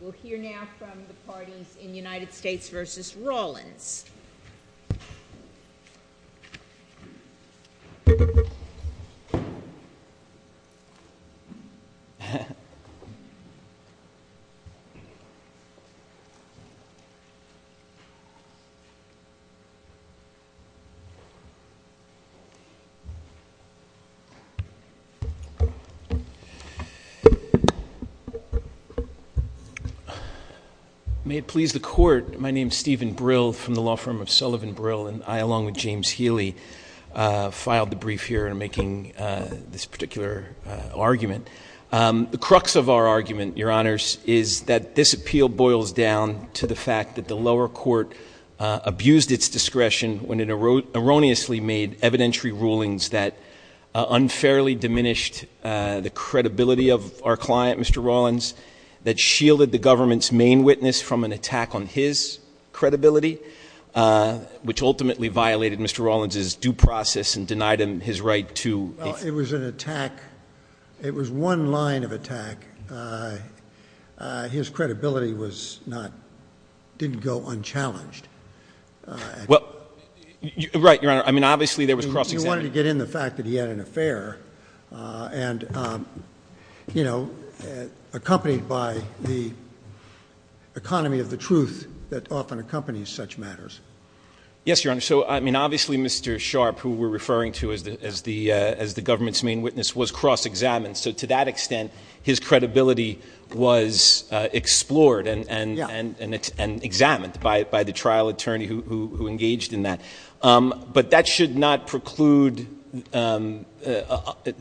We'll hear now from the parties in United States v. Rawlins. May it please the Court, my name is Stephen Brill from the law firm of Sullivan Brill and I along with James Healy filed the brief here in making this particular argument. The crux of our argument, Your Honors, is that this appeal boils down to the fact that the lower court abused its discretion when it erroneously made evidentiary rulings that unfairly diminished the credibility of our client, Mr. Rawlins. That shielded the government's main witness from an attack on his credibility, which ultimately violated Mr. Rawlins' due process and denied him his right to... Well, it was an attack. It was one line of attack. His credibility was not, didn't go unchallenged. Well, right, Your Honor. I mean, obviously there was cross-examination. He wanted to get in the fact that he had an affair and, you know, accompanied by the economy of the truth that often accompanies such matters. Yes, Your Honor. So, I mean, obviously Mr. Sharpe, who we're referring to as the government's main witness, was cross-examined. So to that extent, his credibility was explored and examined by the trial attorney who engaged in that. But that should not preclude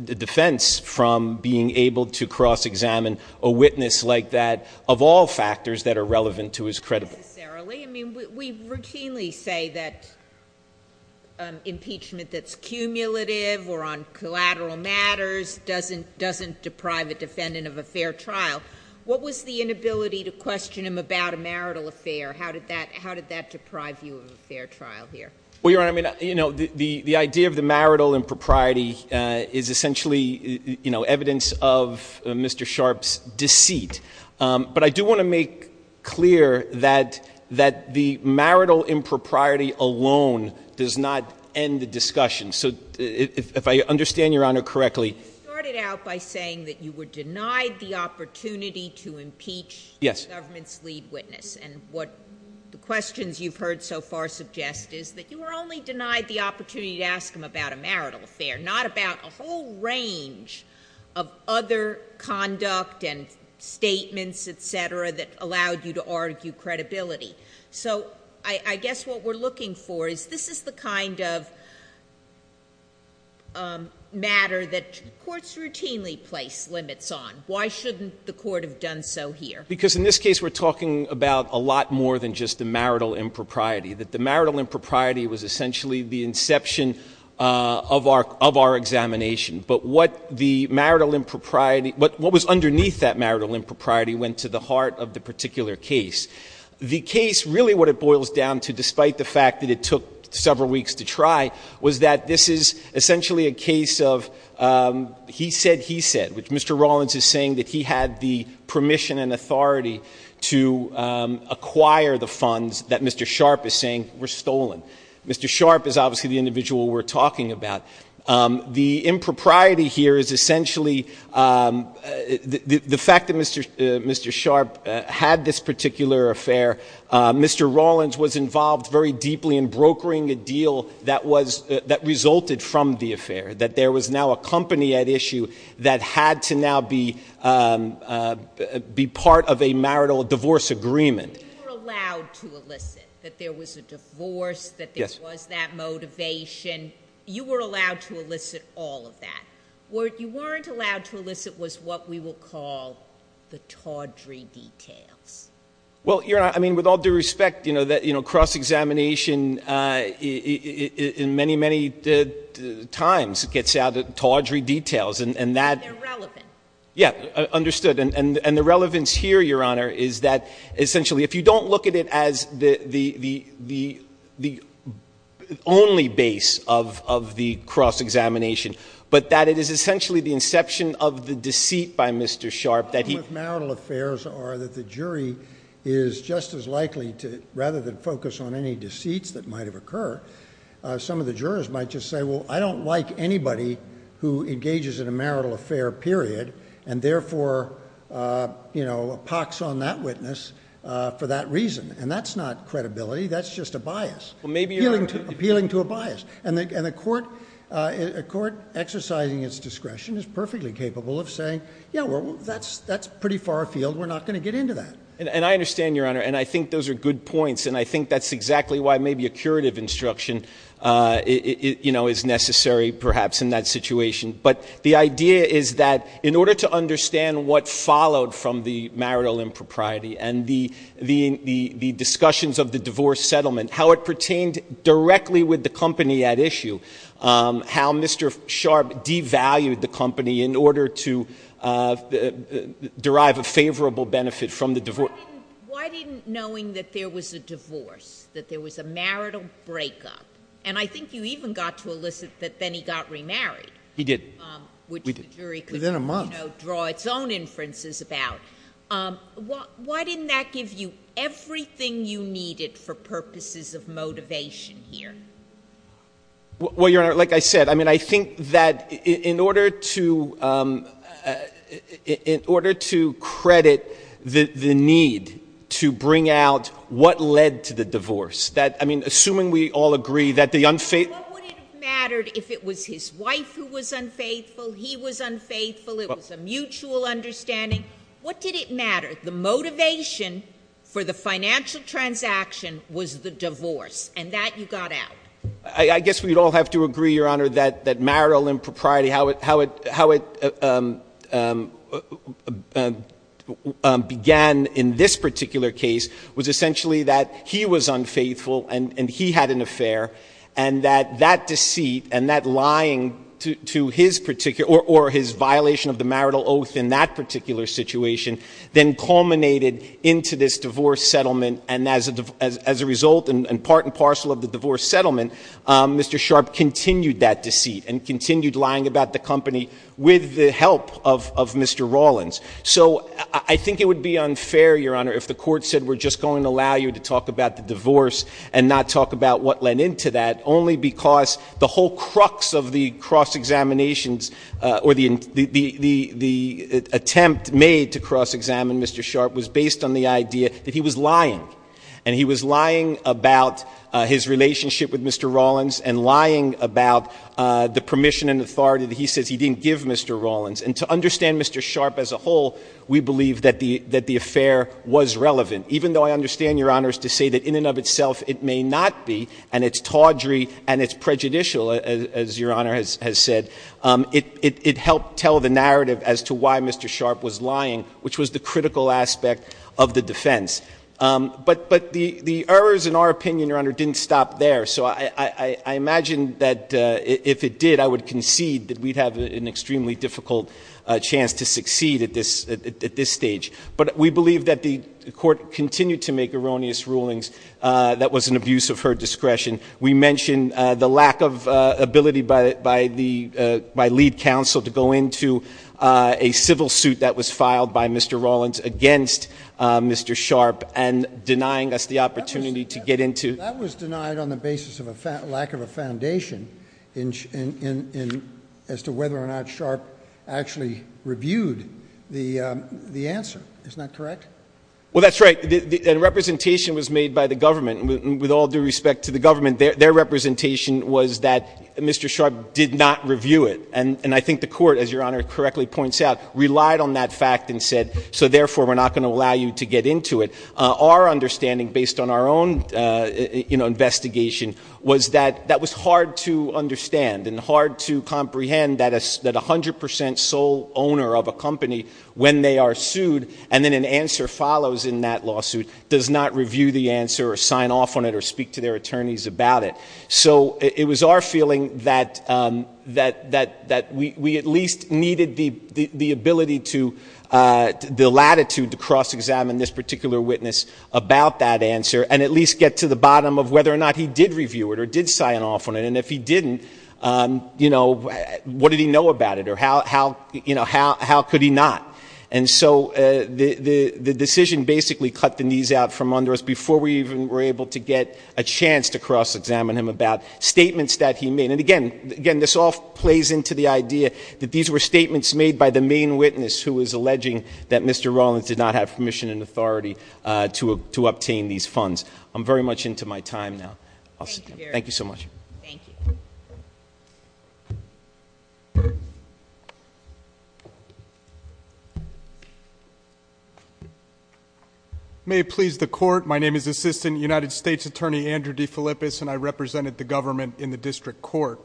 defense from being able to cross-examine a witness like that of all factors that are relevant to his credibility. Necessarily. I mean, we routinely say that impeachment that's cumulative or on collateral matters doesn't deprive a defendant of a fair trial. What was the inability to question him about a marital affair? How did that deprive you of a fair trial here? Well, Your Honor, I mean, you know, the idea of the marital impropriety is essentially, you know, evidence of Mr. Sharpe's deceit. But I do want to make clear that the marital impropriety alone does not end the discussion. So if I understand Your Honor correctly— You started out by saying that you were denied the opportunity to impeach the government's lead witness. And what the questions you've heard so far suggest is that you were only denied the opportunity to ask him about a marital affair, not about a whole range of other conduct and statements, et cetera, that allowed you to argue credibility. So I guess what we're looking for is this is the kind of matter that courts routinely place limits on. Why shouldn't the court have done so here? Because in this case we're talking about a lot more than just the marital impropriety, that the marital impropriety was essentially the inception of our examination. But what the marital impropriety — what was underneath that marital impropriety went to the heart of the particular case. The case, really what it boils down to, despite the fact that it took several weeks to try, was that this is essentially a case of he said, he said, which Mr. Rawlins is saying that he had the permission and authority to acquire the funds that Mr. Sharpe is saying were stolen. Mr. Sharpe is obviously the individual we're talking about. The impropriety here is essentially the fact that Mr. Sharpe had this particular affair. Mr. Rawlins was involved very deeply in brokering a deal that resulted from the affair, that there was now a company at issue that had to now be part of a marital divorce agreement. You were allowed to elicit that there was a divorce, that there was that motivation. You were allowed to elicit all of that. What you weren't allowed to elicit was what we will call the tawdry details. Well, Your Honor, I mean, with all due respect, you know, cross-examination in many, many times gets out of tawdry details and that. They're relevant. Yeah, understood. And the relevance here, Your Honor, is that essentially if you don't look at it as the only base of the cross-examination, but that it is essentially the inception of the deceit by Mr. Sharpe that he. The problem with marital affairs are that the jury is just as likely to, rather than focus on any deceits that might have occurred, some of the jurors might just say, well, I don't like anybody who engages in a marital affair, period, and therefore, you know, pocks on that witness for that reason. And that's not credibility. That's just a bias. Appealing to a bias. And a court exercising its discretion is perfectly capable of saying, yeah, well, that's pretty far afield. We're not going to get into that. And I understand, Your Honor, and I think those are good points, and I think that's exactly why maybe a curative instruction, you know, is necessary perhaps in that situation. But the idea is that in order to understand what followed from the marital impropriety and the discussions of the divorce settlement, how it pertained directly with the company at issue, how Mr. Sharpe devalued the company in order to derive a favorable benefit from the divorce. Why didn't, knowing that there was a divorce, that there was a marital breakup, and I think you even got to elicit that then he got remarried. He did. Which the jury could, you know, draw its own inferences about. Why didn't that give you everything you needed for purposes of motivation here? Well, Your Honor, like I said, I mean, I think that in order to credit the need to bring out what led to the divorce, that, I mean, assuming we all agree that the unfaithful What would it have mattered if it was his wife who was unfaithful, he was unfaithful, it was a mutual understanding? What did it matter? The motivation for the financial transaction was the divorce, and that you got out. I guess we'd all have to agree, Your Honor, that marital impropriety, how it began in this particular case was essentially that he was unfaithful and he had an affair, and that that deceit and that lying to his particular, or his violation of the marital oath in that particular situation, then culminated into this divorce settlement, and as a result, and part and parcel of the divorce settlement, Mr. Sharpe continued that deceit and continued lying about the company with the help of Mr. Rawlins. So I think it would be unfair, Your Honor, if the court said we're just going to allow you to talk about the divorce and not talk about what led into that, only because the whole crux of the cross-examinations or the attempt made to cross-examine Mr. Sharpe was based on the idea that he was lying, and he was lying about his relationship with Mr. Rawlins and lying about the permission and authority that he says he didn't give Mr. Rawlins. And to understand Mr. Sharpe as a whole, we believe that the affair was relevant, even though I understand, Your Honor, to say that in and of itself it may not be, and it's tawdry and it's prejudicial, as Your Honor has said. It helped tell the narrative as to why Mr. Sharpe was lying, which was the critical aspect of the defense. But the errors, in our opinion, Your Honor, didn't stop there. So I imagine that if it did, I would concede that we'd have an extremely difficult chance to succeed at this stage. But we believe that the Court continued to make erroneous rulings that was an abuse of her discretion. We mentioned the lack of ability by lead counsel to go into a civil suit that was filed by Mr. Rawlins against Mr. Sharpe and denying us the opportunity to get into it. That was denied on the basis of a lack of a foundation as to whether or not Sharpe actually reviewed the answer. Isn't that correct? Well, that's right. A representation was made by the government, and with all due respect to the government, their representation was that Mr. Sharpe did not review it. And I think the Court, as Your Honor correctly points out, relied on that fact and said, so therefore we're not going to allow you to get into it. Our understanding, based on our own investigation, was that that was hard to understand and hard to comprehend that a hundred percent sole owner of a company, when they are sued, and then an answer follows in that lawsuit, does not review the answer or sign off on it or speak to their attorneys about it. So it was our feeling that we at least needed the ability to, the latitude to cross-examine this particular witness about that answer and at least get to the bottom of whether or not he did review it or did sign off on it. And if he didn't, you know, what did he know about it or how could he not? And so the decision basically cut the knees out from under us before we even were able to get a chance to cross-examine him about statements that he made. And again, this all plays into the idea that these were statements made by the main witness who was alleging that Mr. Rollins did not have permission and authority to obtain these funds. I'm very much into my time now. Thank you so much. Thank you. May it please the Court, my name is Assistant United States Attorney Andrew DeFilippis and I represented the government in the District Court.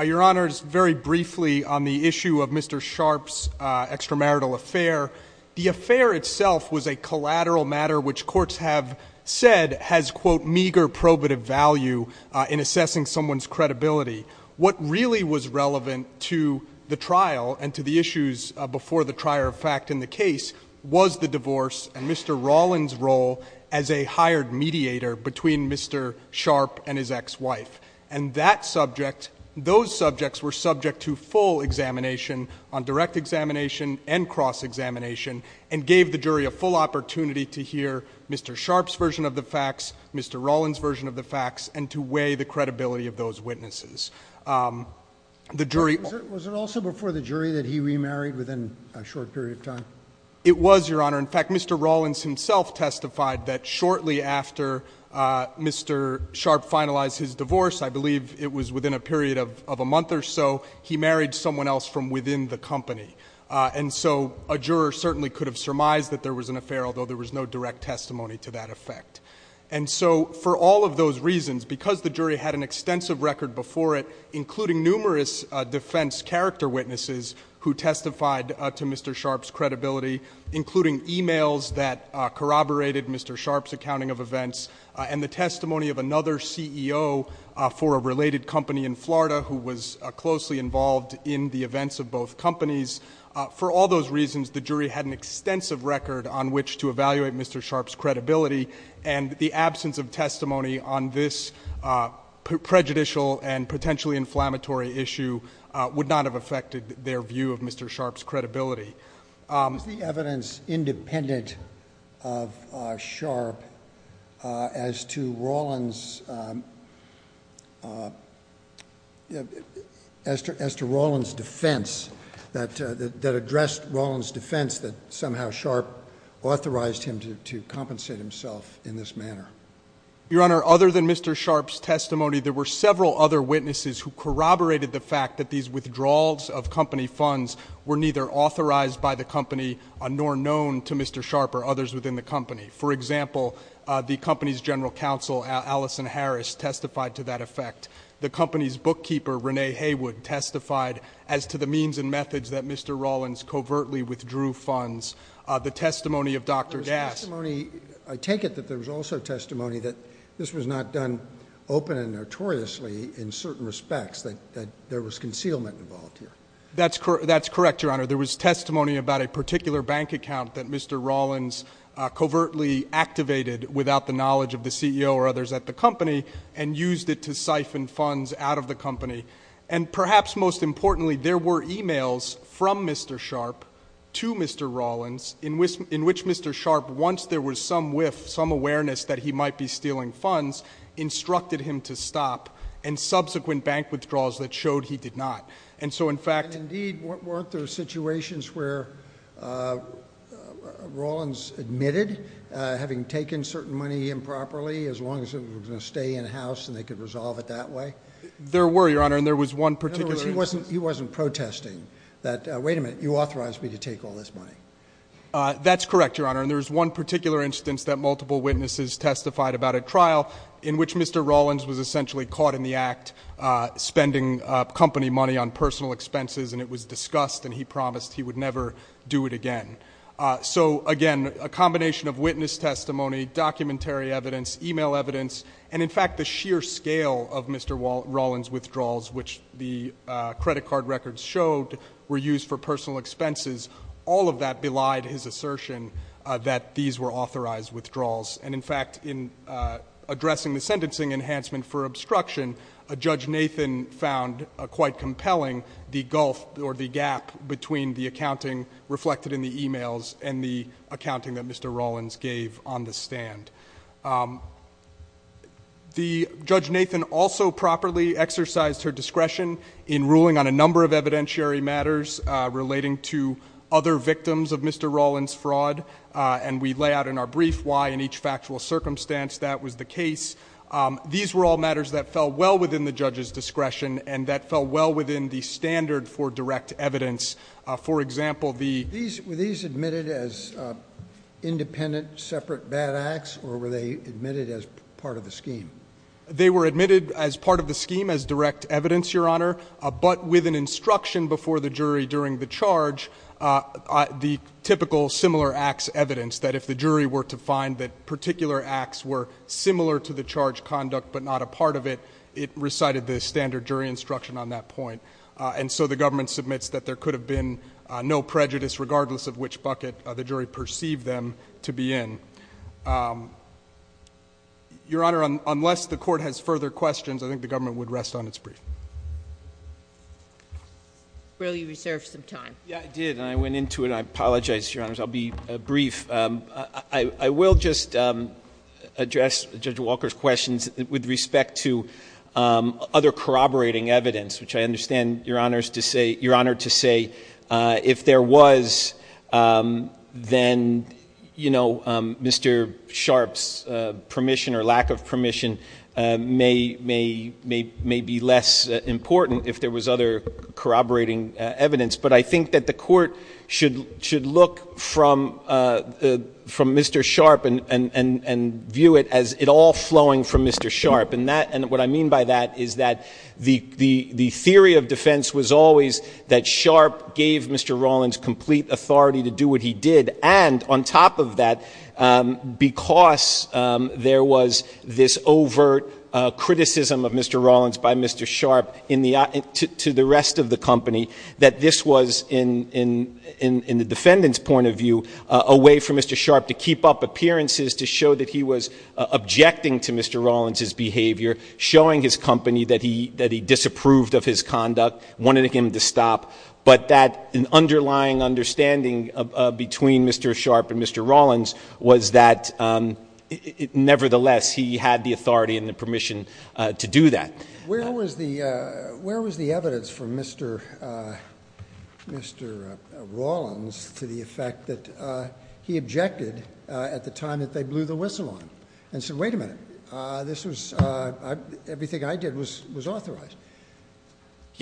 Your Honors, very briefly on the issue of Mr. Sharpe's extramarital affair, the affair itself was a collateral matter which courts have said has, quote, meager probative value in assessing someone's credibility. What really was relevant to the trial and to the issues before the trier of fact in the case was the divorce and Mr. Rollins' role as a hired mediator between Mr. Sharpe and his ex-wife. And that subject, those subjects were subject to full examination on direct examination and cross-examination and gave the jury a full opportunity to hear Mr. Sharpe's version of the facts, Mr. Rollins' version of the facts, and to weigh the credibility of those witnesses. Was it also before the jury that he remarried within a short period of time? It was, Your Honor. In fact, Mr. Rollins himself testified that shortly after Mr. Sharpe finalized his divorce, I believe it was within a period of a month or so, he married someone else from within the company. And so a juror certainly could have surmised that there was an affair, although there was no direct testimony to that effect. And so for all of those reasons, because the jury had an extensive record before it, including numerous defense character witnesses who testified to Mr. Sharpe's credibility, including emails that corroborated Mr. Sharpe's accounting of events, and the testimony of another CEO for a related company in Florida who was closely involved in the events of both companies, for all those reasons, the jury had an extensive record on which to evaluate Mr. Sharpe's credibility. And the absence of testimony on this prejudicial and potentially inflammatory issue would not have affected their view of Mr. Sharpe's credibility. Is the evidence independent of Sharpe as to Rollins' defense, that addressed Rollins' defense that somehow Sharpe authorized him to compensate himself in this manner? Your Honor, other than Mr. Sharpe's testimony, there were several other witnesses who corroborated the fact that these withdrawals of company funds were neither authorized by the company, nor known to Mr. Sharpe or others within the company. For example, the company's general counsel, Allison Harris, testified to that effect. The company's bookkeeper, Renee Haywood, testified as to the means and methods that Mr. Rollins covertly withdrew funds. The testimony of Dr. Gass I take it that there was also testimony that this was not done open and notoriously in certain respects, that there was concealment involved here. That's correct, Your Honor. There was testimony about a particular bank account that Mr. Rollins covertly activated without the knowledge of the CEO or others at the company, and used it to siphon funds out of the company. And perhaps most importantly, there were emails from Mr. Sharpe to Mr. Rollins in which Mr. Sharpe, once there was some whiff, some awareness that he might be stealing funds, instructed him to stop, and subsequent bank withdrawals that showed he did not. And so, in fact— And indeed, weren't there situations where Rollins admitted, having taken certain money improperly, as long as it was going to stay in-house and they could resolve it that way? There were, Your Honor, and there was one particular— That's correct, Your Honor, and there was one particular instance that multiple witnesses testified about at trial in which Mr. Rollins was essentially caught in the act, spending company money on personal expenses, and it was discussed, and he promised he would never do it again. So, again, a combination of witness testimony, documentary evidence, email evidence, and, in fact, the sheer scale of Mr. Rollins' withdrawals, which the credit card records showed were used for personal expenses, all of that belied his assertion that these were authorized withdrawals. And, in fact, in addressing the sentencing enhancement for obstruction, Judge Nathan found quite compelling the gulf or the gap between the accounting reflected in the emails and the accounting that Mr. Rollins gave on the stand. Judge Nathan also properly exercised her discretion in ruling on a number of evidentiary matters relating to other victims of Mr. Rollins' fraud, and we lay out in our brief why in each factual circumstance that was the case. These were all matters that fell well within the judge's discretion and that fell well within the standard for direct evidence. For example, the— Were these admitted as independent, separate bad acts, or were they admitted as part of the scheme? They were admitted as part of the scheme as direct evidence, Your Honor, but with an instruction before the jury during the charge, the typical similar acts evidence, that if the jury were to find that particular acts were similar to the charge conduct but not a part of it, it recited the standard jury instruction on that point. And so the government submits that there could have been no prejudice, regardless of which bucket the jury perceived them to be in. Your Honor, unless the court has further questions, I think the government would rest on its brief. Will you reserve some time? Yeah, I did, and I went into it. I apologize, Your Honors. I'll be brief. I will just address Judge Walker's questions with respect to other corroborating evidence, which I understand, Your Honor, to say if there was, then, you know, Mr. Sharpe's permission or lack of permission may be less important if there was other corroborating evidence. But I think that the court should look from Mr. Sharpe and view it as it all flowing from Mr. Sharpe. And what I mean by that is that the theory of defense was always that Sharpe gave Mr. Rollins complete authority to do what he did. And on top of that, because there was this overt criticism of Mr. Rollins by Mr. Sharpe to the rest of the company, that this was, in the defendant's point of view, a way for Mr. Sharpe to keep up appearances to show that he was objecting to Mr. Rollins' behavior, showing his company that he disapproved of his conduct, wanted him to stop, but that an underlying understanding between Mr. Sharpe and Mr. Rollins was that, nevertheless, he had the authority and the permission to do that. Where was the evidence from Mr. Rollins to the effect that he objected at the time that they blew the whistle on him and said, wait a minute, everything I did was authorized?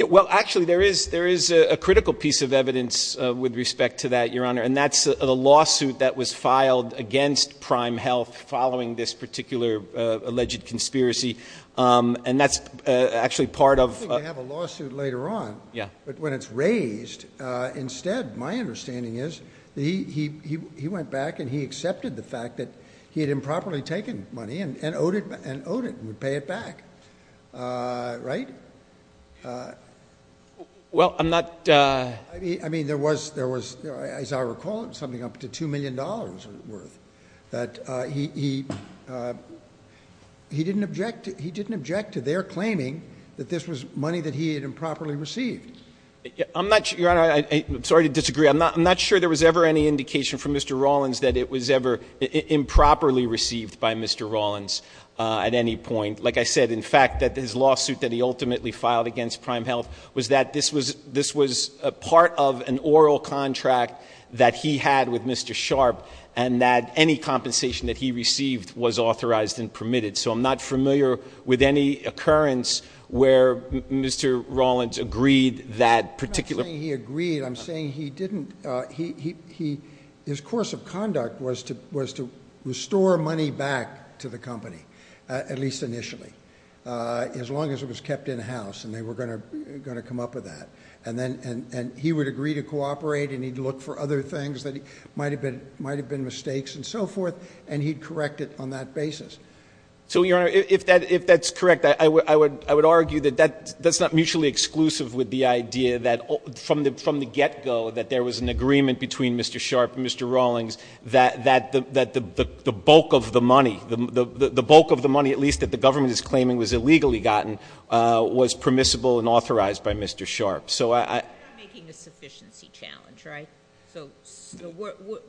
Well, actually, there is a critical piece of evidence with respect to that, Your Honor, and that's the lawsuit that was filed against Prime Health following this particular alleged conspiracy. And that's actually part of – I think they have a lawsuit later on. Yeah. But when it's raised, instead, my understanding is that he went back and he accepted the fact that he had improperly taken money and owed it and would pay it back, right? Well, I'm not – I mean, there was, as I recall, something up to $2 million worth that he didn't object to their claiming that this was money that he had improperly received. I'm not – Your Honor, I'm sorry to disagree. I'm not sure there was ever any indication from Mr. Rollins that it was ever improperly received by Mr. Rollins at any point. Like I said, in fact, that his lawsuit that he ultimately filed against Prime Health was that this was part of an oral contract that he had with Mr. Sharp and that any compensation that he received was authorized and permitted. So I'm not familiar with any occurrence where Mr. Rollins agreed that particular – I'm not saying he agreed. I'm saying he didn't – his course of conduct was to restore money back to the company, at least initially, as long as it was kept in-house and they were going to come up with that. And he would agree to cooperate and he'd look for other things that might have been mistakes and so forth, and he'd correct it on that basis. So, Your Honor, if that's correct, I would argue that that's not mutually exclusive with the idea that from the get-go that there was an agreement between Mr. Sharp and Mr. Rollins that the bulk of the money, the bulk of the money at least that the government is claiming was illegally gotten, was permissible and authorized by Mr. Sharp. So I – You're not making a sufficiency challenge, right? So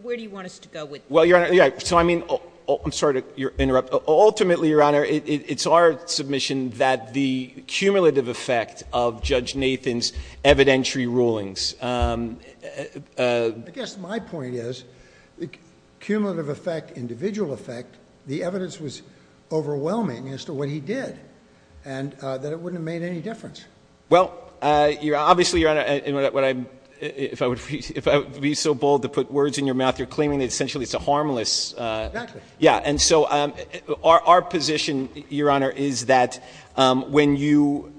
where do you want us to go with this? Well, Your Honor, so I mean – I'm sorry to interrupt. Ultimately, Your Honor, it's our submission that the cumulative effect of Judge Nathan's evidentiary rulings – I guess my point is the cumulative effect, individual effect, the evidence was overwhelming as to what he did and that it wouldn't have made any difference. Well, obviously, Your Honor, if I would be so bold to put words in your mouth, you're claiming that essentially it's a harmless – Exactly. Yeah, and so our position, Your Honor, is that when you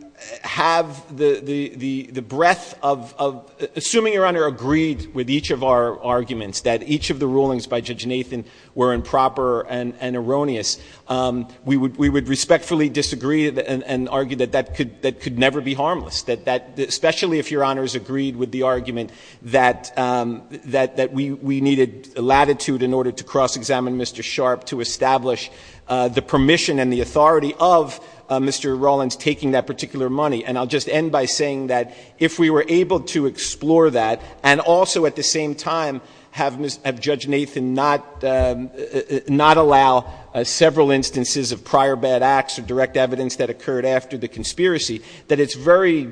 have the breadth of – assuming Your Honor agreed with each of our arguments that each of the rulings by Judge Nathan were improper and erroneous, we would respectfully disagree and argue that that could never be harmless, especially if Your Honor has agreed with the argument that we needed latitude in order to cross-examine Mr. Sharp to establish the permission and the authority of Mr. Rawlins taking that particular money. And I'll just end by saying that if we were able to explore that and also at the same time have Judge Nathan not allow several instances of prior bad acts or direct evidence that occurred after the conspiracy, that it's very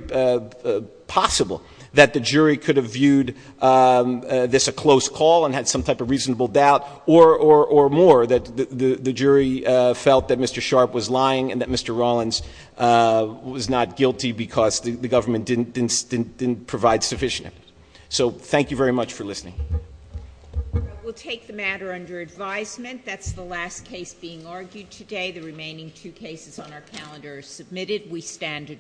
possible that the jury could have viewed this a close call and had some type of reasonable doubt or more that the jury felt that Mr. Sharp was lying and that Mr. Rawlins was not guilty because the government didn't provide sufficient evidence. So thank you very much for listening. We'll take the matter under advisement. That's the last case being argued today. The remaining two cases on our calendar are submitted. We stand adjourned.